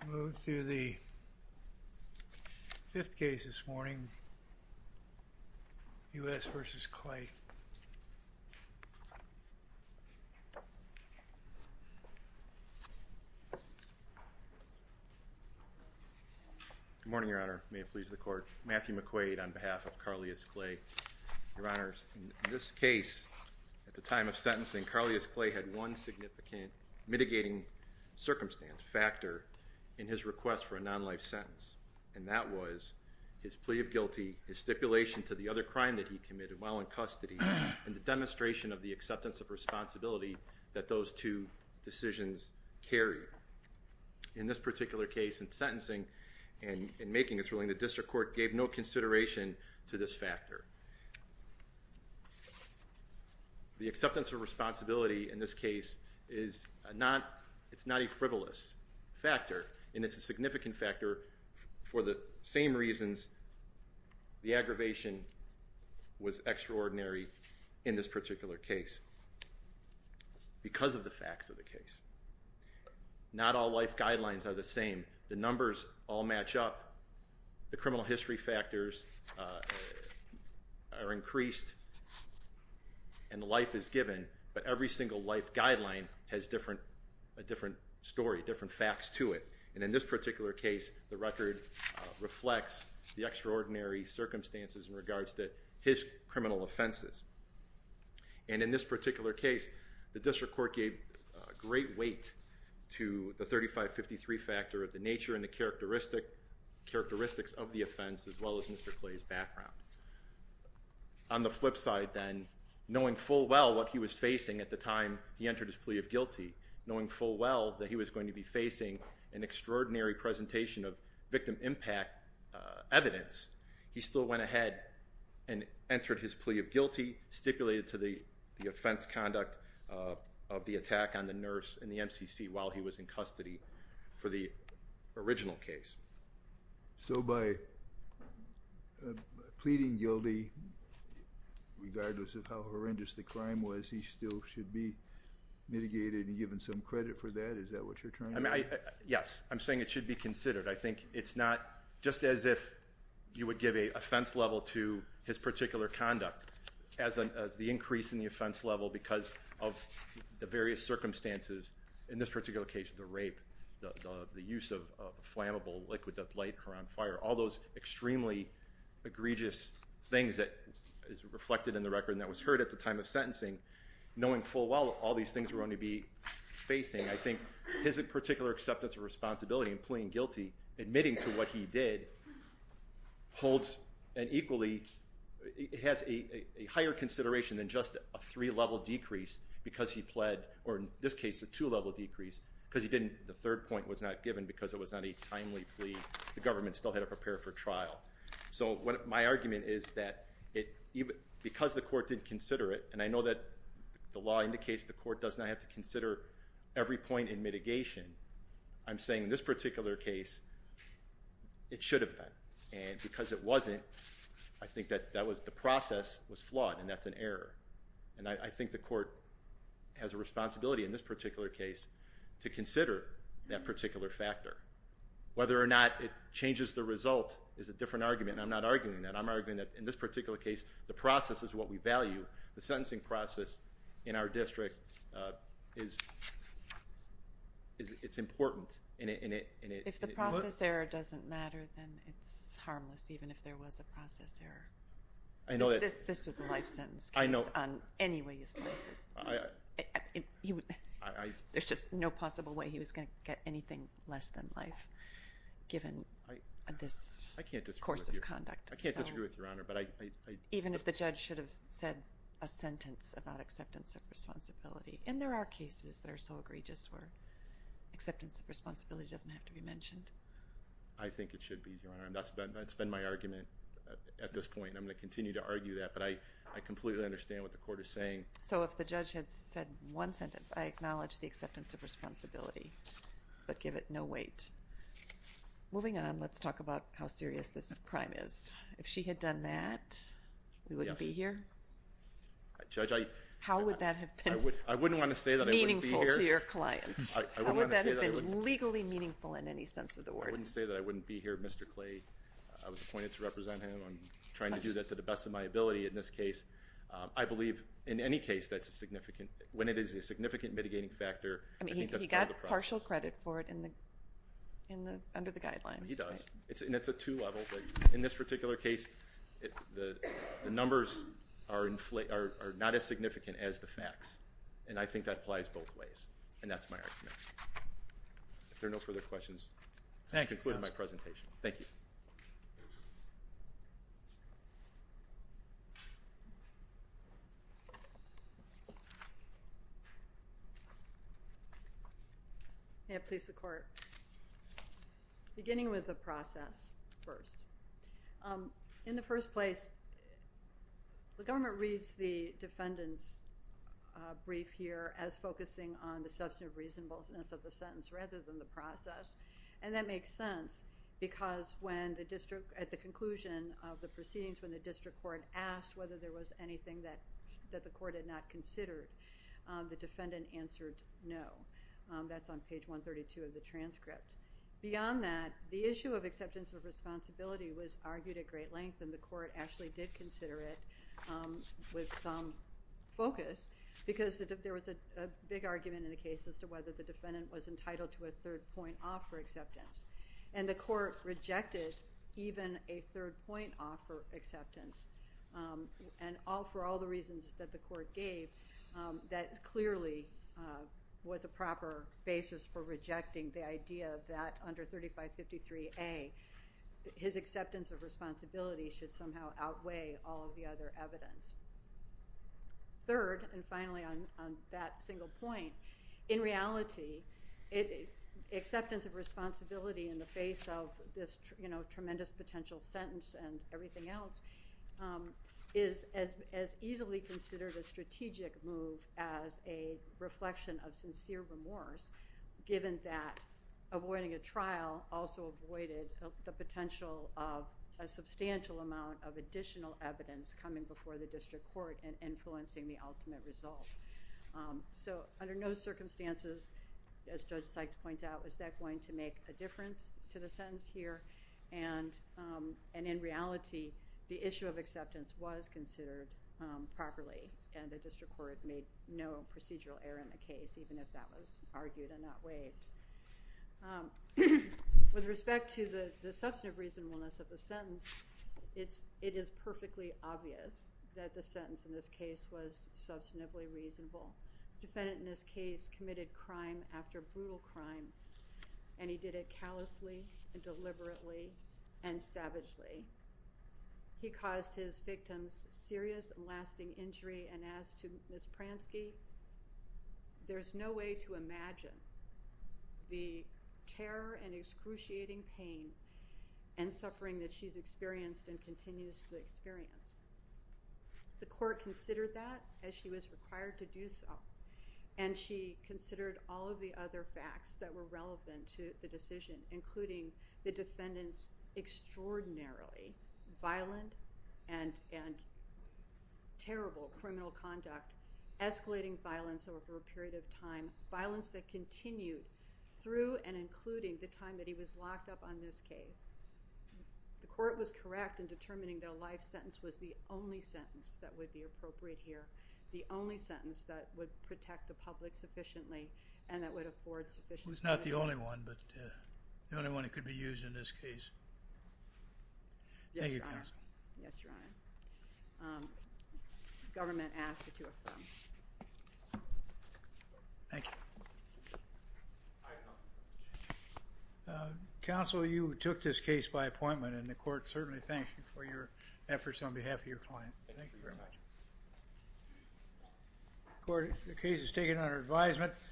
Good morning, Your Honor. May it please the Court. Matthew McQuaid on behalf of Carleous Clay had one significant mitigating circumstance, factor, in his request for a non-life sentence. And that was his plea of guilty, his stipulation to the other crime that he committed while in custody, and the demonstration of the acceptance of responsibility that those two decisions carried. In this particular case, in sentencing and in making his ruling, the District Court gave no consideration to this factor. The acceptance of responsibility in this case is not a frivolous factor, and it's a significant factor for the same reasons the aggravation was extraordinary in this particular case, because of the facts of the case. Not all life guidelines are the same. The numbers all match up. The criminal history factors are increased, and life is given, but every single life guideline has a different story, different facts to it. And in this particular case, the record reflects the extraordinary circumstances in regards to his criminal offenses. And in this particular case, the District Court gave no consideration to the 5553 factor of the nature and the characteristics of the offense, as well as Mr. Clay's background. On the flip side then, knowing full well what he was facing at the time he entered his plea of guilty, knowing full well that he was going to be facing an extraordinary presentation of victim impact evidence, he still went ahead and entered his plea of guilty, stipulated to the offense conduct of the attack on the original case. So by pleading guilty, regardless of how horrendous the crime was, he still should be mitigated and given some credit for that? Is that what you're trying to say? Yes. I'm saying it should be considered. I think it's not just as if you would give an offense level to his particular conduct as the increase in the offense level because of the various circumstances. In this particular case, the rape, the use of a flammable liquid that lit her on fire, all those extremely egregious things that is reflected in the record and that was heard at the time of sentencing. Knowing full well all these things were going to be facing, I think his particular acceptance of responsibility in pleading guilty, admitting to what he did, holds an equally, it has a higher consideration than just a three-level decrease because he pled, or in this case, a two-level decrease because he didn't, the third point was not given because it was not a timely plea. The government still had to prepare for trial. So my argument is that because the court didn't consider it, and I know that the law indicates the court does not have to consider every point in mitigation, I'm saying in this particular case, it should have been. And because it wasn't, I think that the process was flawed and that's an error. And I think the court has a responsibility in this particular case to consider that particular factor. Whether or not it changes the result is a different argument and I'm not arguing that. I'm arguing that in this particular case, the process is what we value. The sentencing process in our district is, it's important and it... If the process error doesn't matter, then it's harmless, even if there was a process error. I know that... This was a life sentence case. I know... On any way you slice it. I... There's just no possible way he was going to get anything less than life given this... I can't disagree with you.... course of conduct. I can't disagree with you, Your Honor, but I... Even if the judge should have said a sentence about acceptance of responsibility. And there are cases that are so egregious where acceptance of responsibility doesn't have to be mentioned. I think it should be, Your Honor. That's been my argument at this point. I'm going to continue to argue that, but I completely understand what the court is saying. So if the judge had said one sentence, I acknowledge the acceptance of responsibility, but give it no weight. Moving on, let's talk about how serious this crime is. If she had done that, we wouldn't be here? Yes. Judge, I... How would that have been... I wouldn't want to say that I wouldn't be here... meaningful to your client. I wouldn't want to say that I wouldn't... How would that have been legally meaningful in any sense of the word? I wouldn't say that I wouldn't be here, Mr. Clay. I was appointed to represent him. I'm trying to do that to the best of my ability in this case. I believe in any case that's a significant... when it is a significant mitigating factor, I think that's part of the process. I think that's what the court is looking for under the guidelines. He does. And it's a two-level, but in this particular case, the numbers are not as significant as the facts, and I think that applies both ways, and that's my argument. If there are no further questions, I'll conclude my presentation. Thank you. May it please the Court. Beginning with the process first. In the first place, the government reads the defendant's brief here as focusing on the substantive reasonableness of the case. At the conclusion of the proceedings, when the district court asked whether there was anything that the court had not considered, the defendant answered no. That's on page 132 of the transcript. Beyond that, the issue of acceptance of responsibility was argued at great length, and the court actually did consider it with some focus because there was a big argument in the case as to whether the defendant was entitled to a third point off for acceptance, and the court rejected even a third point off for acceptance, and for all the reasons that the court gave, that clearly was a proper basis for rejecting the idea that under 3553A, his acceptance of responsibility should somehow outweigh all of the other evidence. Third, and finally on that single point, in reality, acceptance of responsibility in the face of this tremendous potential sentence and everything else is as easily considered a strategic move as a reflection of sincere remorse given that avoiding a trial also avoided the potential of a substantial amount of additional evidence coming before the district court and influencing the ultimate result. So under no circumstances, as Judge Sykes points out, is that going to make a difference to the sentence here? And in reality, the issue of acceptance was considered properly, and the district court made no procedural error in that was argued and not waived. With respect to the substantive reasonableness of the sentence, it is perfectly obvious that the sentence in this case was substantively reasonable. Defendant in this case committed crime after brutal crime, and he did it callously and deliberately and savagely. He caused his victims serious and lasting injury, and as to Ms. Pransky, there's no way to imagine the terror and excruciating pain and suffering that she's experienced and continues to experience. The court considered that as she was required to do so, and she considered all of the other facts that were relevant to the decision, including the violence over a period of time, violence that continued through and including the time that he was locked up on this case. The court was correct in determining that a life sentence was the only sentence that would be appropriate here, the only sentence that would protect the public sufficiently, and that would afford sufficient... It's not the only one, but the only one that could be used in this case. Thank you, counsel. Yes, Your Honor. Government asked that you affirm. Thank you. Counsel, you took this case by appointment, and the court certainly thanks you for your efforts on behalf of your client. Thank you very much. Court, the case is taken under advisement.